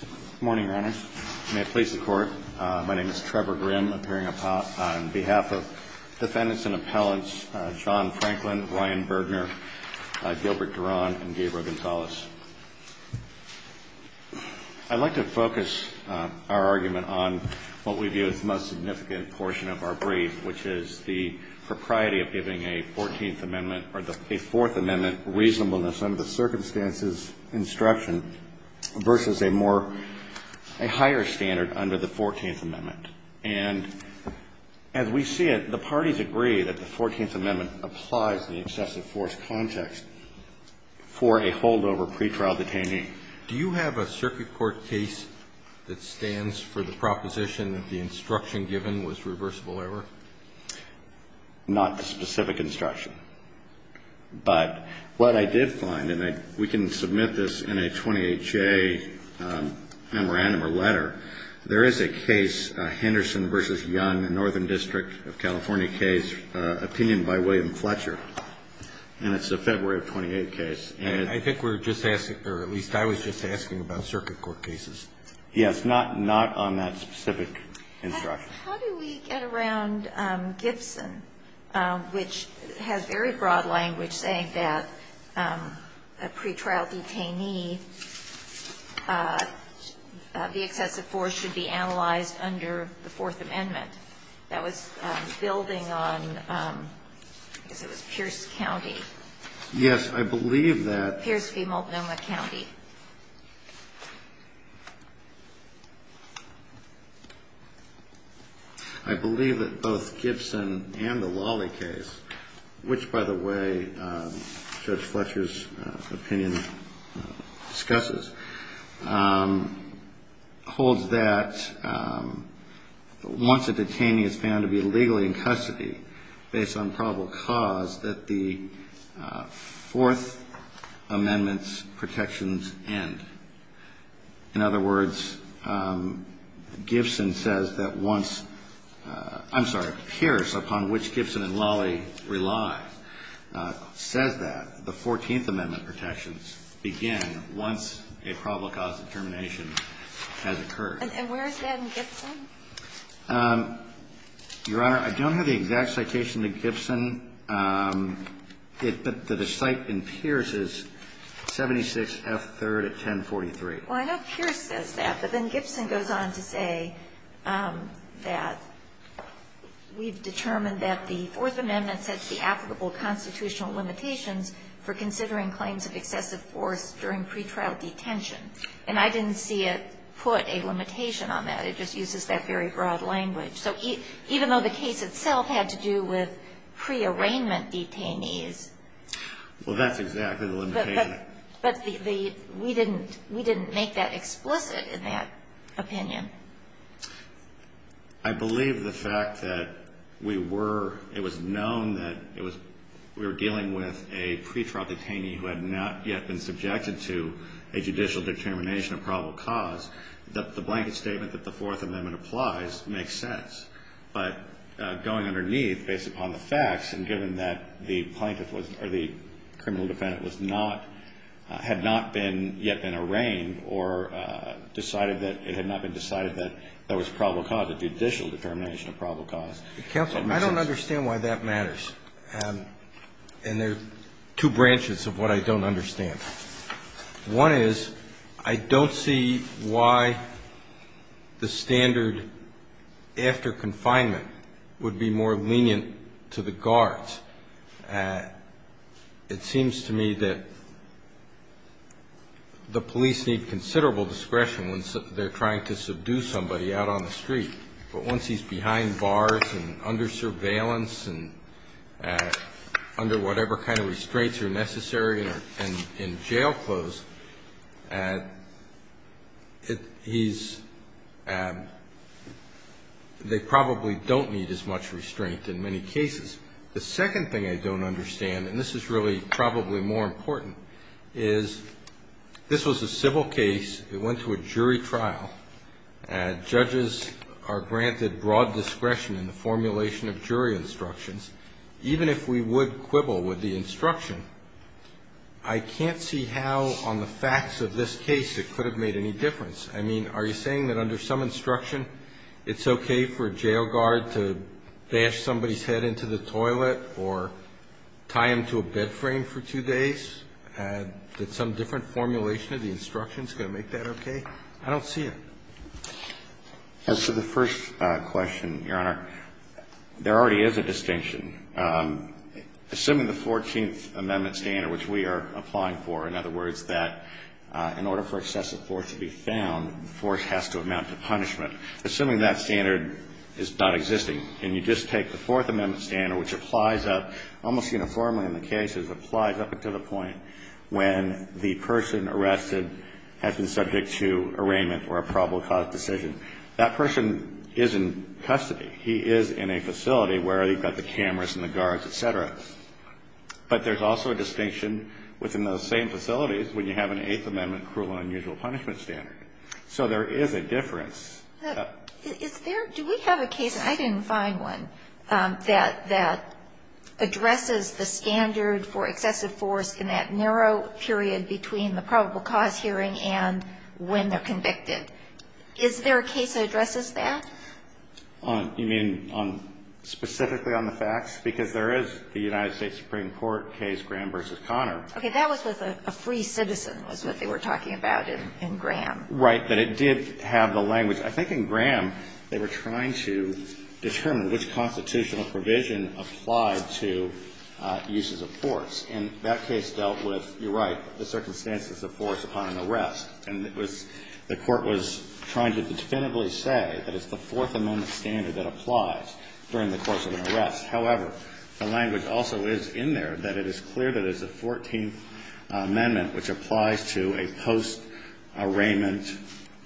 Good morning, Your Honors. May it please the Court, my name is Trevor Grimm, appearing on behalf of defendants and appellants John Franklin, Ryan Bergner, Gilbert Duran, and Gabriel Gonzalez. I'd like to focus our argument on what we view as the most significant portion of our brief, which is the propriety of giving a Fourteenth Amendment, or a Fourth Amendment, with reasonableness under the circumstances instruction, versus a higher standard under the Fourteenth Amendment. And as we see it, the parties agree that the Fourteenth Amendment applies the excessive force context for a holdover pretrial detainee. Do you have a circuit court case that stands for the proposition that the instruction given was reversible error? Not the specific instruction. But what I did find, and we can submit this in a 28-J memorandum or letter, there is a case, Henderson v. Young, a Northern District of California case, opinioned by William Fletcher, and it's a February of 28 case. I think we're just asking, or at least I was just asking about circuit court cases. Yes, not on that specific instruction. How do we get around Gibson, which has very broad language saying that a pretrial detainee, the excessive force should be analyzed under the Fourth Amendment? That was building on, I guess it was Pierce County. Yes, I believe that. Pierce v. Multnomah County. I believe that both Gibson and the Lawley case, which, by the way, Judge Fletcher's opinion discusses, holds that once a detainee is found to be legally in custody, based on probable cause, that the Fourth Amendment's protections end. In other words, Gibson says that once, I'm sorry, Pierce, upon which Gibson and Lawley rely, says that the Fourteenth Amendment protections begin once a probable cause determination has occurred. And where is that in Gibson? Your Honor, I don't have the exact citation to Gibson, but the cite in Pierce is 76F3rd at 1043. Well, I know Pierce says that, but then Gibson goes on to say that we've determined that the Fourth Amendment sets the applicable constitutional limitations for considering claims of excessive force during pretrial detention. And I didn't see it put a limitation on that. It just uses that very broad language. So even though the case itself had to do with pre-arraignment detainees. Well, that's exactly the limitation. But we didn't make that explicit in that opinion. I believe the fact that we were, it was known that we were dealing with a pretrial detainee who had not yet been subjected to a judicial determination of probable cause. The blanket statement that the Fourth Amendment applies makes sense. But going underneath, based upon the facts, and given that the plaintiff was, or the criminal defendant was not, had not been yet been arraigned or decided that, it had not been decided that there was probable cause, a judicial determination of probable cause. Counsel, I don't understand why that matters. And there are two branches of what I don't understand. One is, I don't see why the standard after confinement would be more lenient to the guards. It seems to me that the police need considerable discretion when they're trying to subdue somebody out on the street. But once he's behind bars and under surveillance and under whatever kind of restraints are necessary and in jail clothes, he's, they probably don't need as much restraint in many cases. The second thing I don't understand, and this is really probably more important, is this was a civil case. It went to a jury trial. Judges are granted broad discretion in the formulation of jury instructions. Even if we would quibble with the instruction, I can't see how on the facts of this case it could have made any difference. I mean, are you saying that under some instruction it's okay for a jail guard to bash somebody's head into the toilet or tie him to a bed frame for two days? That some different formulation of the instruction is going to make that okay? I don't see it. So the first question, Your Honor, there already is a distinction. Assuming the Fourteenth Amendment standard, which we are applying for, in other words, that in order for excessive force to be found, the force has to amount to punishment, assuming that standard is not existing, can you just take the Fourth Amendment standard, which applies up almost uniformly in the cases, applies up to the point when the person arrested has been subject to arraignment or a probable cause decision? That person is in custody. He is in a facility where he's got the cameras and the guards, et cetera. But there's also a distinction within those same facilities when you have an Eighth Amendment cruel and unusual punishment standard. So there is a difference. Do we have a case, and I didn't find one, that addresses the standard for excessive force in that narrow period between the probable cause hearing and when they're convicted? Is there a case that addresses that? You mean specifically on the facts? Because there is the United States Supreme Court case Graham v. Conner. Okay, that was with a free citizen was what they were talking about in Graham. Right, but it did have the language. I think in Graham they were trying to determine which constitutional provision applied to uses of force. And that case dealt with, you're right, the circumstances of force upon an arrest. And it was the Court was trying to definitively say that it's the Fourth Amendment standard that applies during the course of an arrest. However, the language also is in there that it is clear that it's a Fourteenth Amendment, which applies to a post-arraignment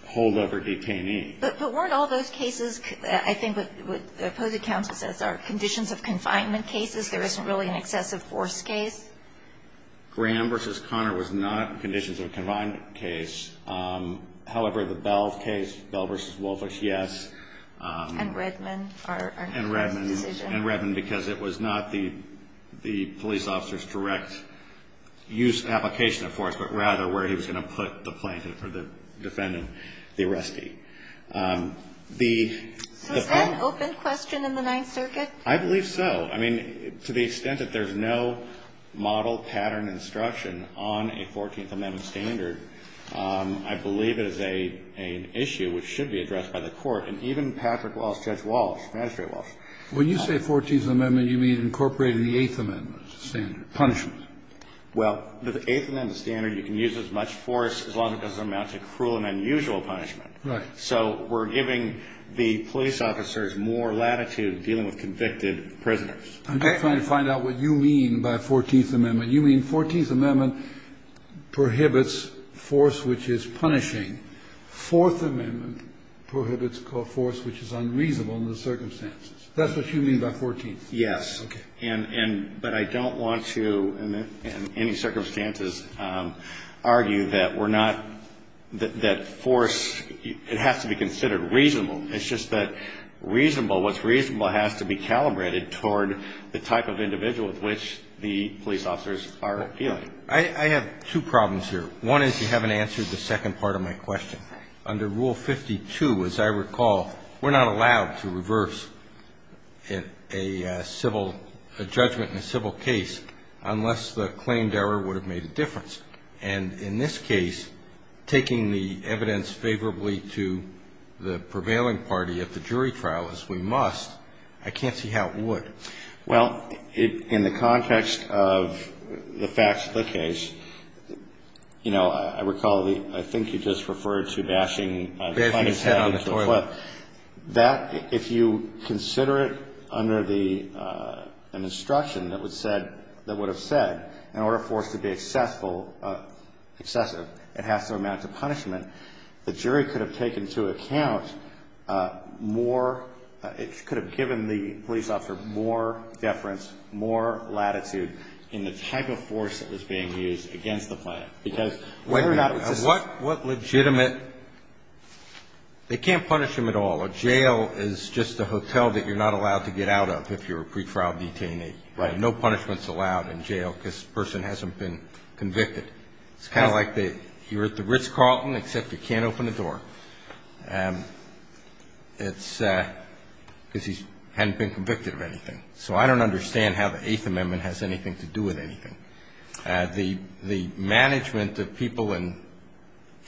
holdover detainee. But weren't all those cases, I think what the opposing counsel says, are conditions of confinement cases? There isn't really an excessive force case? Graham v. Conner was not conditions of a confinement case. However, the Bell case, Bell v. Wolfex, yes. And Redmond are not in this decision. And Redmond, because it was not the police officer's direct use application of force, but rather where he was going to put the plaintiff or the defendant, the arrestee. So is that an open question in the Ninth Circuit? I believe so. I mean, to the extent that there's no model pattern instruction on a Fourteenth Amendment standard, I believe it is an issue which should be addressed by the Court. And even Patrick Walsh, Judge Walsh, Magistrate Walsh. When you say Fourteenth Amendment, you mean incorporating the Eighth Amendment standard, punishment. Well, the Eighth Amendment standard, you can use as much force as long as it doesn't amount to cruel and unusual punishment. Right. So we're giving the police officers more latitude dealing with convicted prisoners. I'm just trying to find out what you mean by Fourteenth Amendment. You mean Fourteenth Amendment prohibits force which is punishing. Fourth Amendment prohibits force which is unreasonable in the circumstances. That's what you mean by Fourteenth. Yes. Okay. And but I don't want to, in any circumstances, argue that we're not, that force, it has to be considered reasonable. It's just that reasonable, what's reasonable has to be calibrated toward the type of individual with which the police officers are appealing. I have two problems here. One is you haven't answered the second part of my question. Under Rule 52, as I recall, we're not allowed to reverse a civil, a judgment in a civil case unless the claimed error would have made a difference. And in this case, taking the evidence favorably to the prevailing party at the jury trial as we must, I can't see how it would. Well, in the context of the facts of the case, you know, I recall the, I think you just referred to bashing the client's head against the floor. Bashing his head on the toilet. That, if you consider it under the, an instruction that was said, that would have said in order for us to be accessible, excessive, it has to amount to punishment, the jury could have taken into account more, it could have given the police officer more deference, more latitude in the type of force that was being used against the client. Because whether or not it was a... What legitimate, they can't punish him at all. A jail is just a hotel that you're not allowed to get out of if you're a pre-trial detainee. Right. No punishment's allowed in jail because the person hasn't been convicted. It's kind of like you're at the Ritz Carlton except you can't open the door. It's because he hasn't been convicted of anything. So I don't understand how the Eighth Amendment has anything to do with anything. The management of people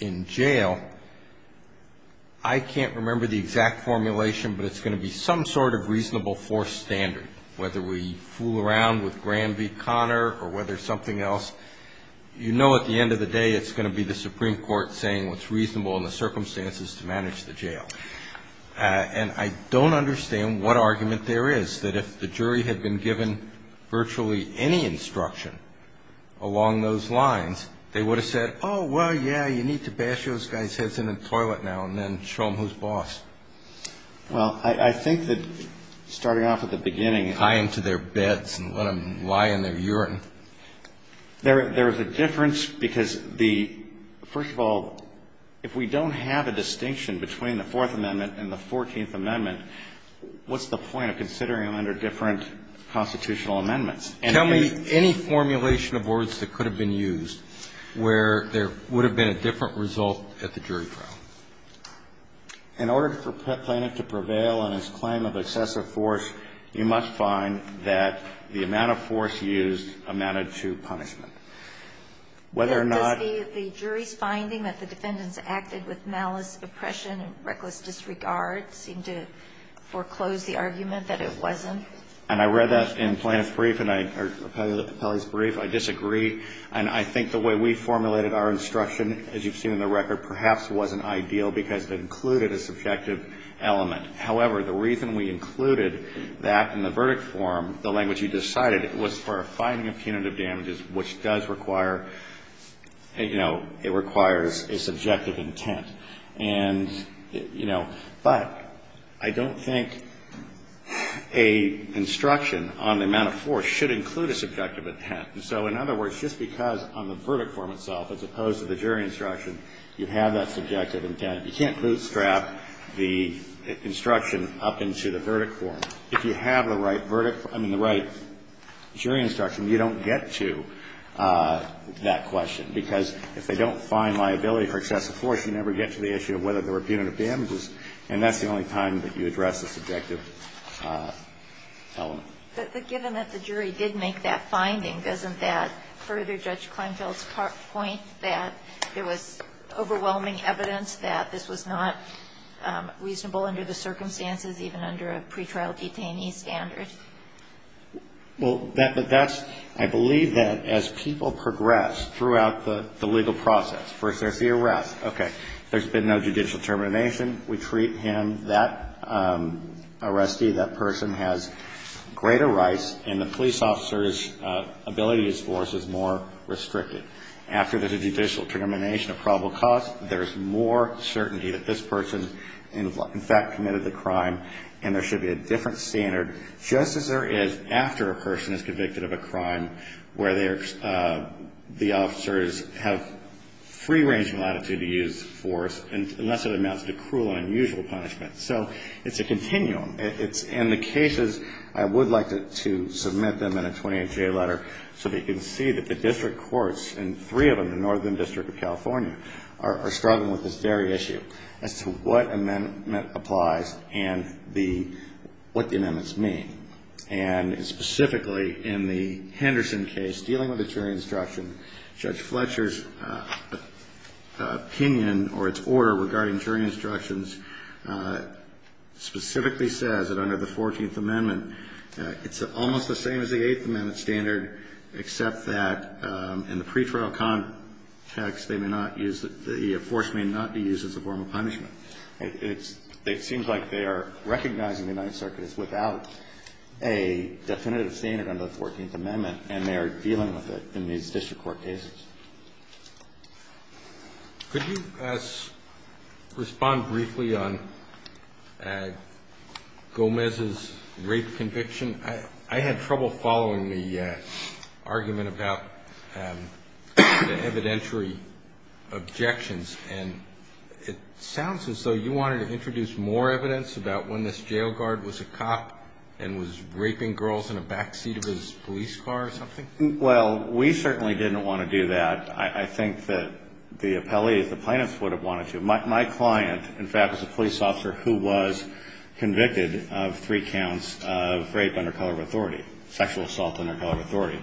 in jail, I can't remember the exact formulation, but it's going to be some sort of reasonable force standard, whether we fool around with Graham v. Conner or whether it's something else. You know at the end of the day it's going to be the Supreme Court saying what's reasonable in the circumstances to manage the jail. And I don't understand what argument there is, that if the jury had been given virtually any instruction along those lines, they would have said, oh, well, yeah, you need to bash those guys' heads in the toilet now and then show them who's boss. Well, I think that starting off at the beginning... Tie them to their beds and let them lie in their urine. There is a difference because the, first of all, if we don't have a distinction between the Fourth Amendment and the Fourteenth Amendment, what's the point of considering them under different constitutional amendments? Tell me any formulation of words that could have been used where there would have been a different result at the jury trial. In order for Plano to prevail on his claim of excessive force, you must find that the amount of force used amounted to punishment. Whether or not... Does the jury's finding that the defendants acted with malice, oppression and reckless disregard seem to foreclose the argument that it wasn't? And I read that in Plano's brief and I, or Pele's brief. I disagree. And I think the way we formulated our instruction, as you've seen in the record, perhaps wasn't ideal because it included a subjective element. However, the reason we included that in the verdict form, the language you decided, was for a finding of punitive damages, which does require, you know, it requires a subjective intent. And, you know, but I don't think an instruction on the amount of force should include a subjective intent. And so, in other words, just because on the verdict form itself, as opposed to the jury instruction, you have that subjective intent. You can't bootstrap the instruction up into the verdict form. If you have the right verdict, I mean, the right jury instruction, you don't get to that question. Because if they don't find liability for excessive force, you never get to the issue of whether there were punitive damages. And that's the only time that you address the subjective element. But given that the jury did make that finding, doesn't that further Judge Kleinfeld's point that there was overwhelming evidence that this was not reasonable under the circumstances, even under a pretrial detainee standard? Well, that's, I believe that as people progress throughout the legal process, first there's the arrest. Okay. There's been no judicial termination. We treat him, that arrestee, that person, has greater rights, and the police officer's ability to use force is more restricted. After there's a judicial termination of probable cause, there's more certainty that this person, in fact, committed the crime, and there should be a different standard, just as there is after a person is convicted of a crime, where the officers have free range and latitude to use force, unless it amounts to cruel and unusual punishment. So it's a continuum. In the cases, I would like to submit them in a 28-J letter, so that you can see that the district courts, and three of them, the Northern District of California, are struggling with this very issue as to what amendment applies and what the amendments mean. And specifically in the Henderson case, dealing with the jury instruction, Judge Fletcher's opinion or its order regarding jury instructions specifically says that under the 14th Amendment, it's almost the same as the Eighth Amendment standard, except that in the pretrial context, they may not use the force may not be used as a form of punishment. It seems like they are recognizing the United Circuits without a definitive standard under the 14th Amendment, and they are dealing with it in these district court cases. Could you respond briefly on Gomez's rape conviction? I had trouble following the argument about the evidentiary objections, and it sounds as though you wanted to introduce more evidence about when this jail guard was a cop and was raping girls in the back seat of his police car or something. Well, we certainly didn't want to do that. I think that the appellees, the plaintiffs would have wanted to. My client, in fact, was a police officer who was convicted of three counts of rape under color of authority, sexual assault under color of authority.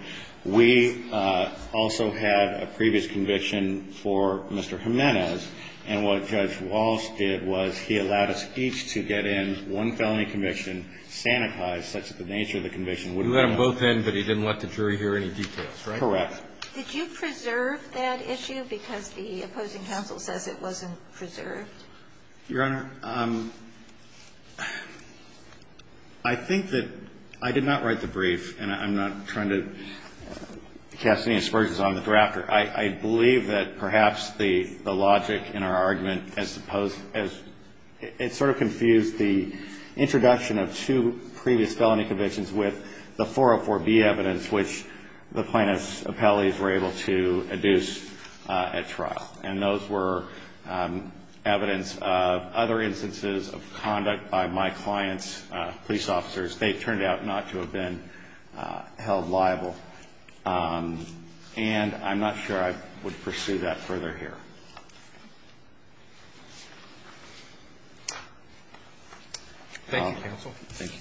We also had a previous conviction for Mr. Jimenez, and what Judge Walsh did was he allowed us each to get in one felony conviction, sanitize, such is the nature of the conviction. You let them both in, but he didn't let the jury hear any details, right? Correct. Did you preserve that issue because the opposing counsel says it wasn't preserved? Your Honor, I think that I did not write the brief, and I'm not trying to cast any aspersions on the drafter. I believe that perhaps the logic in our argument, it sort of confused the introduction of two previous felony convictions with the 404B evidence which the plaintiff's appellees were able to adduce at trial, and those were evidence of other instances of conduct by my client's police officers. They turned out not to have been held liable, and I'm not sure I would pursue that further here. Thank you, counsel. Thank you.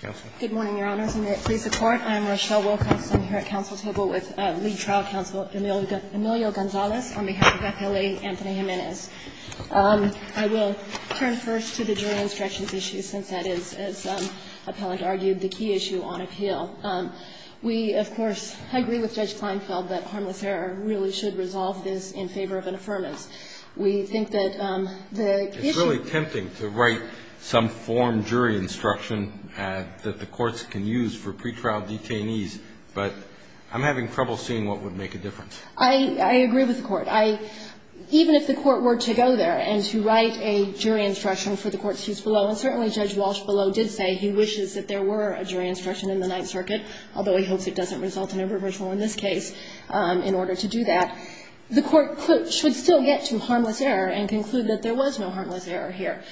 Counsel. Good morning, Your Honors, and may it please the Court. I am Rochelle Wilkinson. I'm here at counsel's table with Lead Trial Counsel Emilio Gonzalez on behalf of FLA Anthony Jimenez. I will turn first to the jury instructions issue since that is, as the appellant argued, the key issue on appeal. We, of course, I agree with Judge Kleinfeld that harmless error really should resolve this in favor of an affirmance. We think that the issue It's really tempting to write some form jury instruction that the courts can use for pretrial detainees, but I'm having trouble seeing what would make a difference. I agree with the Court. Even if the Court were to go there and to write a jury instruction for the courts used below, and certainly Judge Walsh below did say he wishes that there were a jury instruction in the Ninth Circuit, although he hopes it doesn't result in irreversible in this case, in order to do that, the Court should still get to harmless error and conclude that there was no harmless error here.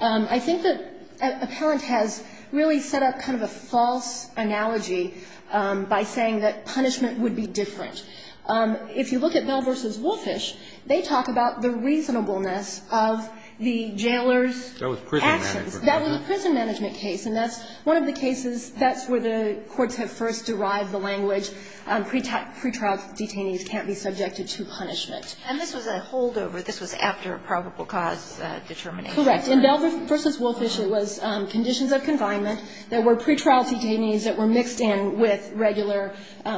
I think that an appellant has really set up kind of a false analogy by saying that punishment would be different. If you look at Bell v. Wolfish, they talk about the reasonableness of the jailer's actions. That was a prison management case. And that's one of the cases that's where the courts have first derived the language pretrial detainees can't be subjected to punishment. And this was a holdover. This was after a probable cause determination. Correct. In Bell v. Wolfish, it was conditions of confinement. There were pretrial detainees that were mixed in with regular,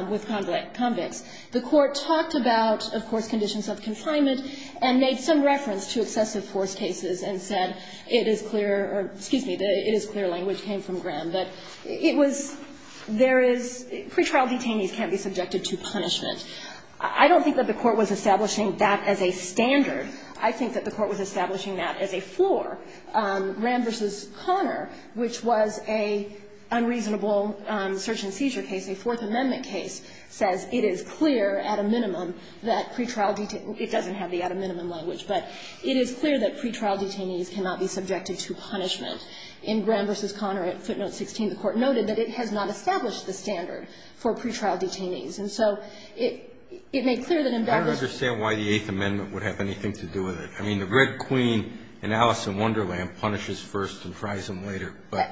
with convicts. The Court talked about, of course, conditions of confinement and made some reference to excessive force cases and said it is clear, or excuse me, the it is clear language came from Graham, that it was, there is, pretrial detainees can't be subjected to punishment. I don't think that the Court was establishing that as a standard. I think that the Court was establishing that as a floor. Ram v. Conner, which was an unreasonable search and seizure case, a Fourth Amendment case, says it is clear at a minimum that pretrial detainees, it doesn't have the at a minimum language, but it is clear that pretrial detainees cannot be subjected to punishment. In Graham v. Conner at footnote 16, the Court noted that it has not established the standard for pretrial detainees. And so it made clear that in Bell v. Wolfish. I don't understand why the Eighth Amendment would have anything to do with it. I mean, the Red Queen in Alice in Wonderland punishes first and fries them later. Right. But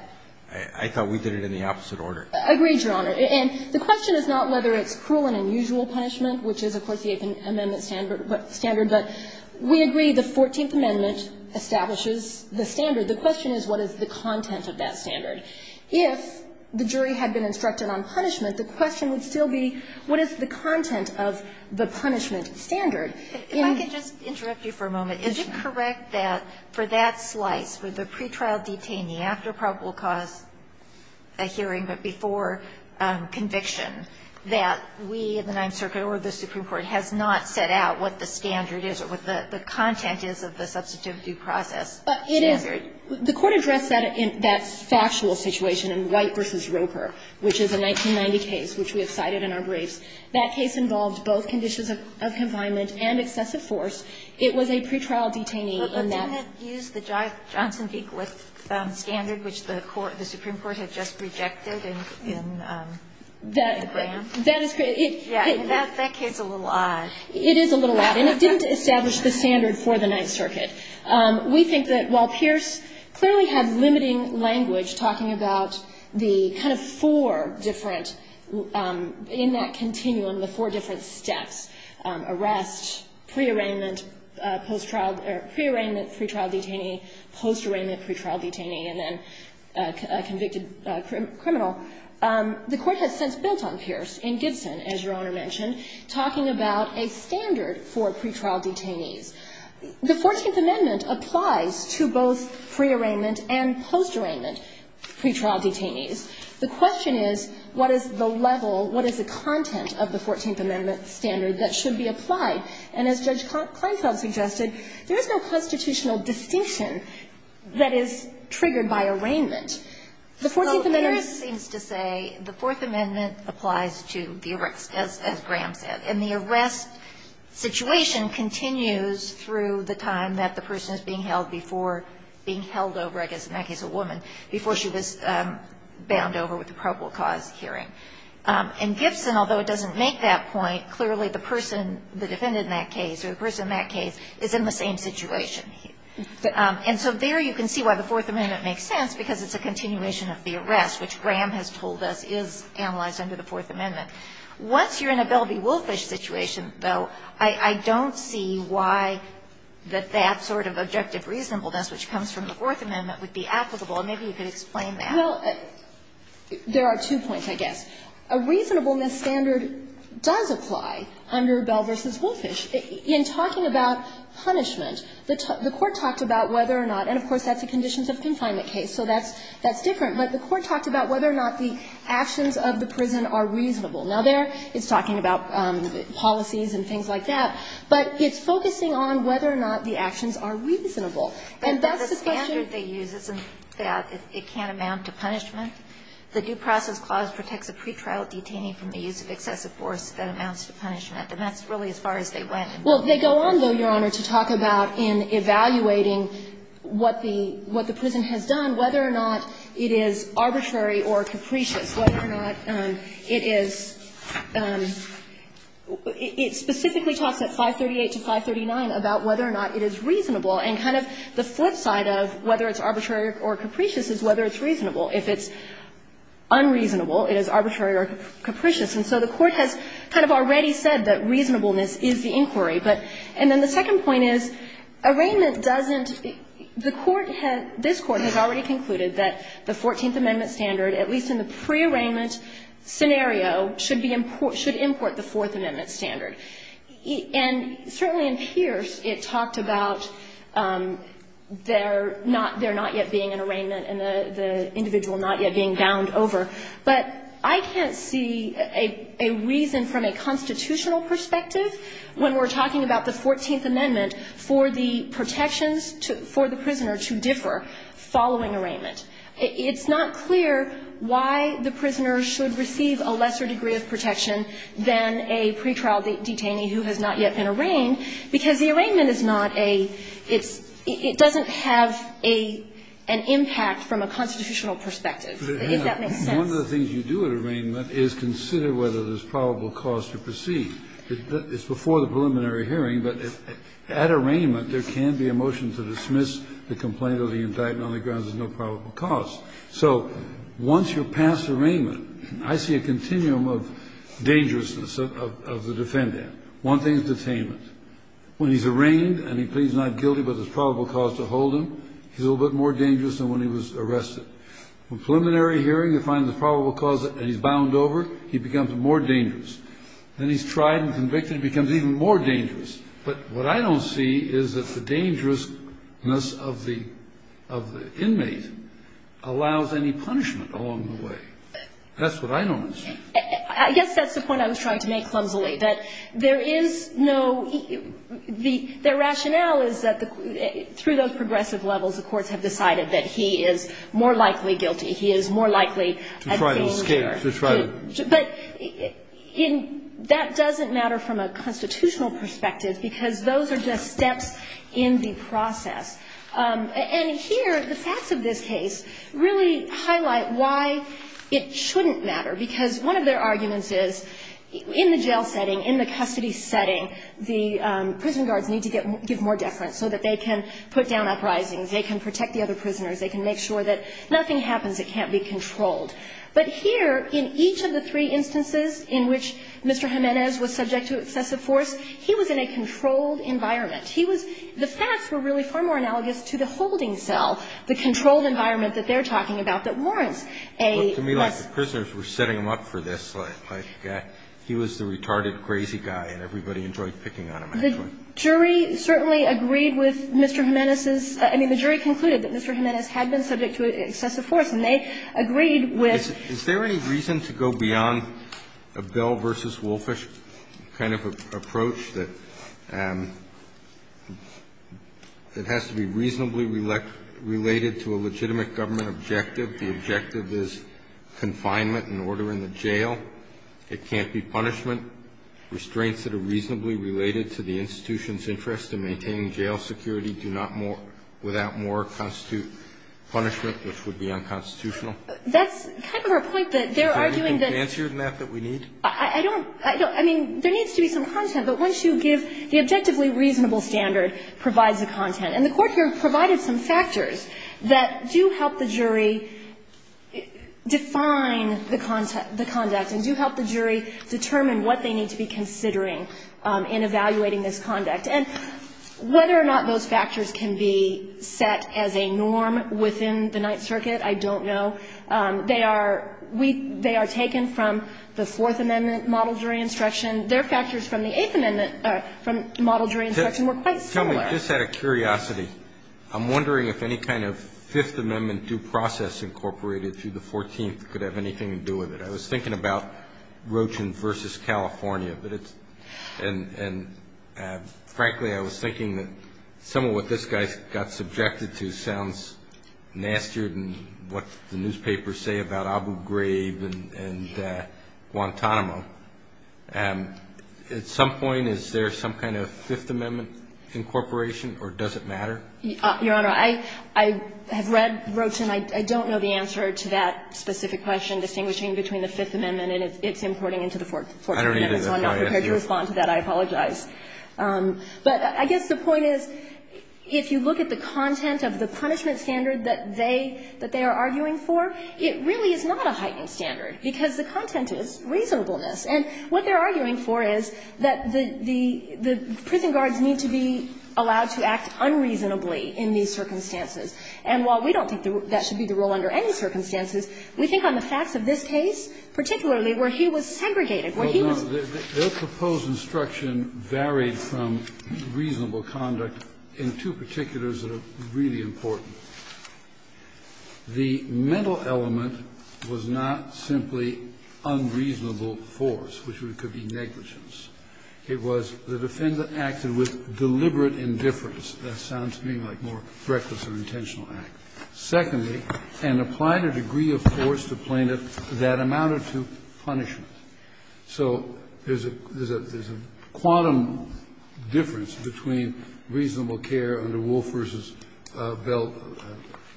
I thought we did it in the opposite order. Agreed, Your Honor. And the question is not whether it's cruel and unusual punishment, which is, of course, the Eighth Amendment standard. But we agree the Fourteenth Amendment establishes the standard. The question is what is the content of that standard. If the jury had been instructed on punishment, the question would still be what is the content of the punishment standard. If I could just interrupt you for a moment. Is it correct that for that slice, for the pretrial detainee after probable cause, a hearing, but before conviction, that we at the Ninth Circuit or the Supreme Court has not set out what the standard is or what the content is of the substantive due process standard? The Court addressed that in that factual situation in White v. Roper, which is a 1990 case, which we have cited in our briefs. That case involved both conditions of confinement and excessive force. It was a pretrial detainee in that. Didn't it use the Johnson v. Gwyth standard, which the Supreme Court had just rejected in the grant? That is correct. That case is a little odd. It is a little odd. And it didn't establish the standard for the Ninth Circuit. We think that while Pierce clearly had limiting language talking about the kind of four different, in that continuum, the four different steps, arrest, pre-arraignment, pretrial detainee, post-arraignment pretrial detainee, and then convicted criminal, the Court has since built on Pierce and Gibson, as Your Honor mentioned, talking about a standard for pretrial detainees. The Fourteenth Amendment applies to both pre-arraignment and post-arraignment pretrial detainees. The question is, what is the level, what is the content of the Fourteenth Amendment standard that should be applied? And as Judge Kleinfeld suggested, there is no constitutional distinction that is triggered by arraignment. The Fourteenth Amendment is to say the Fourth Amendment applies to the arrest, as Graham said. And the arrest situation continues through the time that the person is being held before, being held over, I guess in that case a woman, before she was bound over with the probable cause hearing. And Gibson, although it doesn't make that point, clearly the person, the defendant in that case or the person in that case, is in the same situation. And so there you can see why the Fourth Amendment makes sense, because it's a continuation of the arrest, which Graham has told us is analyzed under the Fourth Amendment. Once you're in a Bell v. Wolfish situation, though, I don't see why that that sort of objective reasonableness, which comes from the Fourth Amendment, would be applicable. And maybe you could explain that. Well, there are two points, I guess. A reasonableness standard does apply under Bell v. Wolfish. In talking about punishment, the court talked about whether or not, and of course that's a conditions of confinement case, so that's different. But the court talked about whether or not the actions of the prison are reasonable. Now, there it's talking about policies and things like that, but it's focusing on whether or not the actions are reasonable. And that's the question. But the standard they use isn't that it can't amount to punishment. The Due Process Clause protects a pretrial detainee from the use of excessive force that amounts to punishment, and that's really as far as they went. Well, they go on, though, Your Honor, to talk about in evaluating what the prison has done, whether or not it is arbitrary or capricious, whether or not it is – it specifically talks at 538 to 539 about whether or not it is reasonable and kind of the flip side of whether it's arbitrary or capricious is whether it's reasonable. If it's unreasonable, it is arbitrary or capricious. And so the Court has kind of already said that reasonableness is the inquiry. But – and then the second point is, arraignment doesn't – the Court has – this Court has already concluded that the Fourteenth Amendment standard, at least in the pre-arraignment scenario, should be – should import the Fourth Amendment standard. And certainly in Pierce, it talked about there not – there not yet being an arraignment and the individual not yet being bound over. But I can't see a reason from a constitutional perspective, when we're talking about the Fourteenth Amendment, for the protections for the prisoner to differ following arraignment. It's not clear why the prisoner should receive a lesser degree of protection than a pretrial detainee who has not yet been arraigned, because the arraignment is not a – it's – it doesn't have a – an impact from a constitutional perspective, if that makes sense. Kennedy. One of the things you do at arraignment is consider whether there's probable cause to proceed. It's before the preliminary hearing, but at arraignment, there can be a motion to dismiss the complaint of the indictment on the grounds there's no probable cause. So once you're past arraignment, I see a continuum of dangerousness of the defendant. One thing is detainment. When he's arraigned and he pleads not guilty but there's probable cause to hold him, he's a little bit more dangerous than when he was arrested. In preliminary hearing, you find there's probable cause and he's bound over, he becomes more dangerous. Then he's tried and convicted, he becomes even more dangerous. But what I don't see is that the dangerousness of the – of the inmate allows any punishment along the way. That's what I don't see. I guess that's the point I was trying to make clumsily, that there is no – the rationale is that the – through those progressive levels, the courts have decided that he is more likely guilty. He is more likely at failure. To try to escape. But that doesn't matter from a constitutional perspective because those are just steps in the process. And here, the facts of this case really highlight why it shouldn't matter. Because one of their arguments is in the jail setting, in the custody setting, the prison guards need to give more deference so that they can put down uprisings, they can protect the other prisoners, they can make sure that nothing happens that can't be controlled. But here, in each of the three instances in which Mr. Jimenez was subject to excessive force, he was in a controlled environment. He was – the facts were really far more analogous to the holding cell, the controlled environment that they're talking about that warrants a less – Well, to me, like, the prisoners were setting him up for this. Like, he was the retarded, crazy guy and everybody enjoyed picking on him, actually. The jury certainly agreed with Mr. Jimenez's – I mean, the jury concluded that Mr. Jimenez had been subject to excessive force. And they agreed with – Is there any reason to go beyond a Bell v. Wolfish kind of approach that has to be reasonably related to a legitimate government objective? The objective is confinement and order in the jail. It can't be punishment. Restraints that are reasonably related to the institution's interest in maintaining That's kind of a point that they're arguing that – Is there anything fancier than that that we need? I don't – I mean, there needs to be some content. But once you give – the objectively reasonable standard provides the content. And the Court here provided some factors that do help the jury define the conduct and do help the jury determine what they need to be considering in evaluating this conduct. And whether or not those factors can be set as a norm within the Ninth Circuit, I don't know. They are – we – they are taken from the Fourth Amendment model jury instruction. Their factors from the Eighth Amendment model jury instruction were quite similar. Tell me, just out of curiosity, I'm wondering if any kind of Fifth Amendment due process incorporated through the Fourteenth could have anything to do with it. I was thinking about Rochin versus California. But it's – and frankly, I was thinking that some of what this guy got subjected to sounds nastier than what the newspapers say about Abu Ghraib and Guantanamo. At some point, is there some kind of Fifth Amendment incorporation, or does it matter? Your Honor, I have read Rochin. I don't know the answer to that specific question, distinguishing between the Fifth Amendment and its importing into the Fourth Amendment. So I'm not prepared to respond to that. I apologize. But I guess the point is, if you look at the content of the punishment standard that they – that they are arguing for, it really is not a heightened standard because the content is reasonableness. And what they're arguing for is that the – the prison guards need to be allowed to act unreasonably in these circumstances. And while we don't think that should be the rule under any circumstances, we think on the facts of this case, particularly where he was segregated, where he was – Kennedy, their proposed instruction varied from reasonable conduct in two particulars that are really important. The mental element was not simply unreasonable force, which could be negligence. It was the defendant acted with deliberate indifference. That sounds to me like more reckless or intentional act. Secondly, and applied a degree of force to plaintiff that amounted to punishment. So there's a – there's a – there's a quantum difference between reasonable care under Wolf v.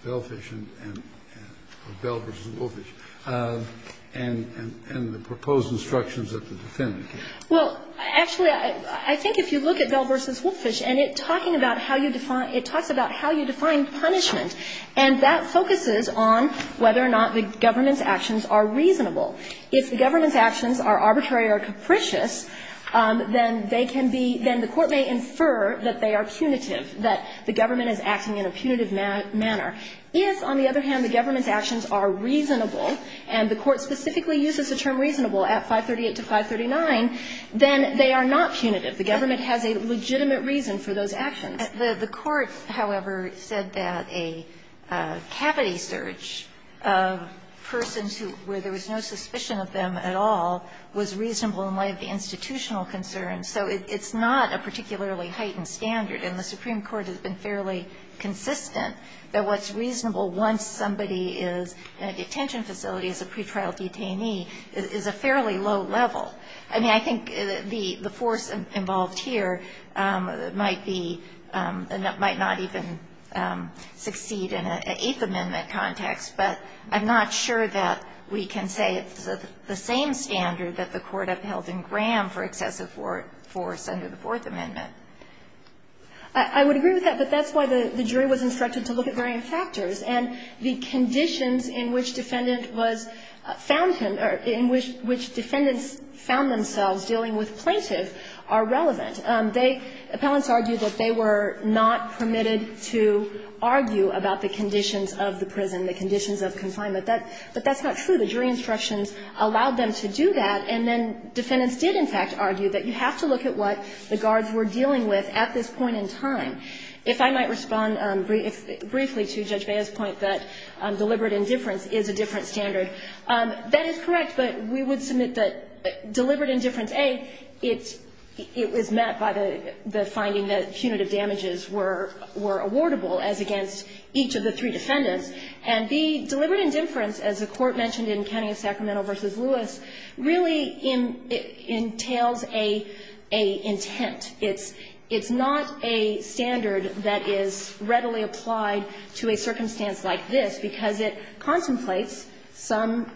Belfish and – or Bell v. Wolfish and the proposed instructions that the defendant gave. Well, actually, I think if you look at Bell v. Wolfish and it talking about how you define – it talks about how you define punishment. And that focuses on whether or not the government's actions are reasonable. If the government's actions are arbitrary or capricious, then they can be – then the Court may infer that they are punitive, that the government is acting in a punitive manner. If, on the other hand, the government's actions are reasonable, and the Court specifically uses the term reasonable at 538 to 539, then they are not punitive. The government has a legitimate reason for those actions. The Court, however, said that a cavity search of persons who – where there was no suspicion of them at all was reasonable in light of the institutional concerns. So it's not a particularly heightened standard. And the Supreme Court has been fairly consistent that what's reasonable once somebody is in a detention facility as a pretrial detainee is a fairly low level. I mean, I think the force involved here might be – might not even succeed in an Eighth Amendment context, but I'm not sure that we can say it's the same standard that the Court upheld in Graham for excessive force under the Fourth Amendment. I would agree with that, but that's why the jury was instructed to look at varying factors, and the conditions in which defendant was found him – or in which defendants found themselves dealing with plaintiff are relevant. They – appellants argued that they were not permitted to argue about the conditions of the prison, the conditions of confinement. But that's not true. The jury instructions allowed them to do that, and then defendants did, in fact, argue that you have to look at what the guards were dealing with at this point in time. If I might respond briefly to Judge Baez's point that deliberate indifference is a different standard, that is correct, but we would submit that deliberate indifference, A, it's – it was met by the finding that punitive damages were – were awardable as against each of the three defendants, and B, deliberate indifference, as the Court mentioned in County of Sacramento v. Lewis, really entails a – a intent. It's – it's not a standard that is readily applied to a circumstance like this, because it contemplates some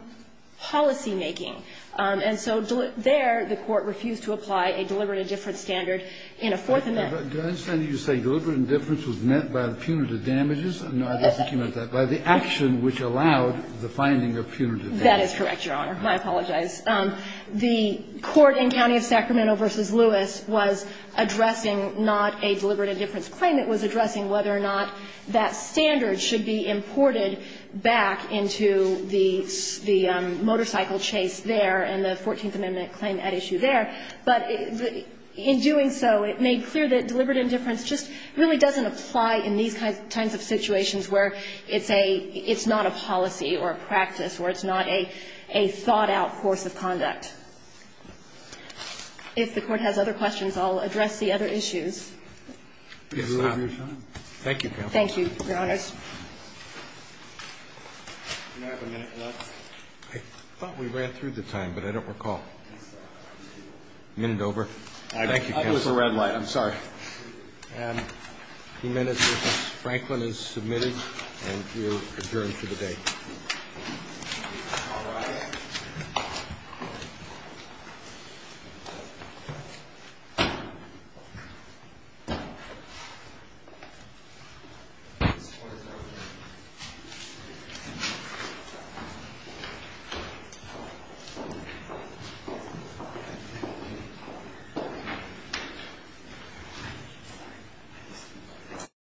policymaking. And so there, the Court refused to apply a deliberate indifference standard in a fourth amendment. Kennedy. Do I understand that you say deliberate indifference was met by the punitive damages? No, I don't think you meant that. By the action which allowed the finding of punitive damages. That is correct, Your Honor. I apologize. The Court in County of Sacramento v. Lewis was addressing not a deliberate indifference claim. It was addressing whether or not that standard should be imported back into the – the motorcycle chase there and the Fourteenth Amendment claim at issue there. But in doing so, it made clear that deliberate indifference just really doesn't apply in these kinds of situations where it's a – it's not a policy or a practice where it's not a – a thought-out course of conduct. If the Court has other questions, I'll address the other issues. Thank you, Counsel. Thank you, Your Honors. I thought we ran through the time, but I don't recall. A minute over. Thank you, Counsel. I was a red light. I'm sorry. A few minutes. Franklin is submitted, and you're adjourned for the day. Thank you. All right.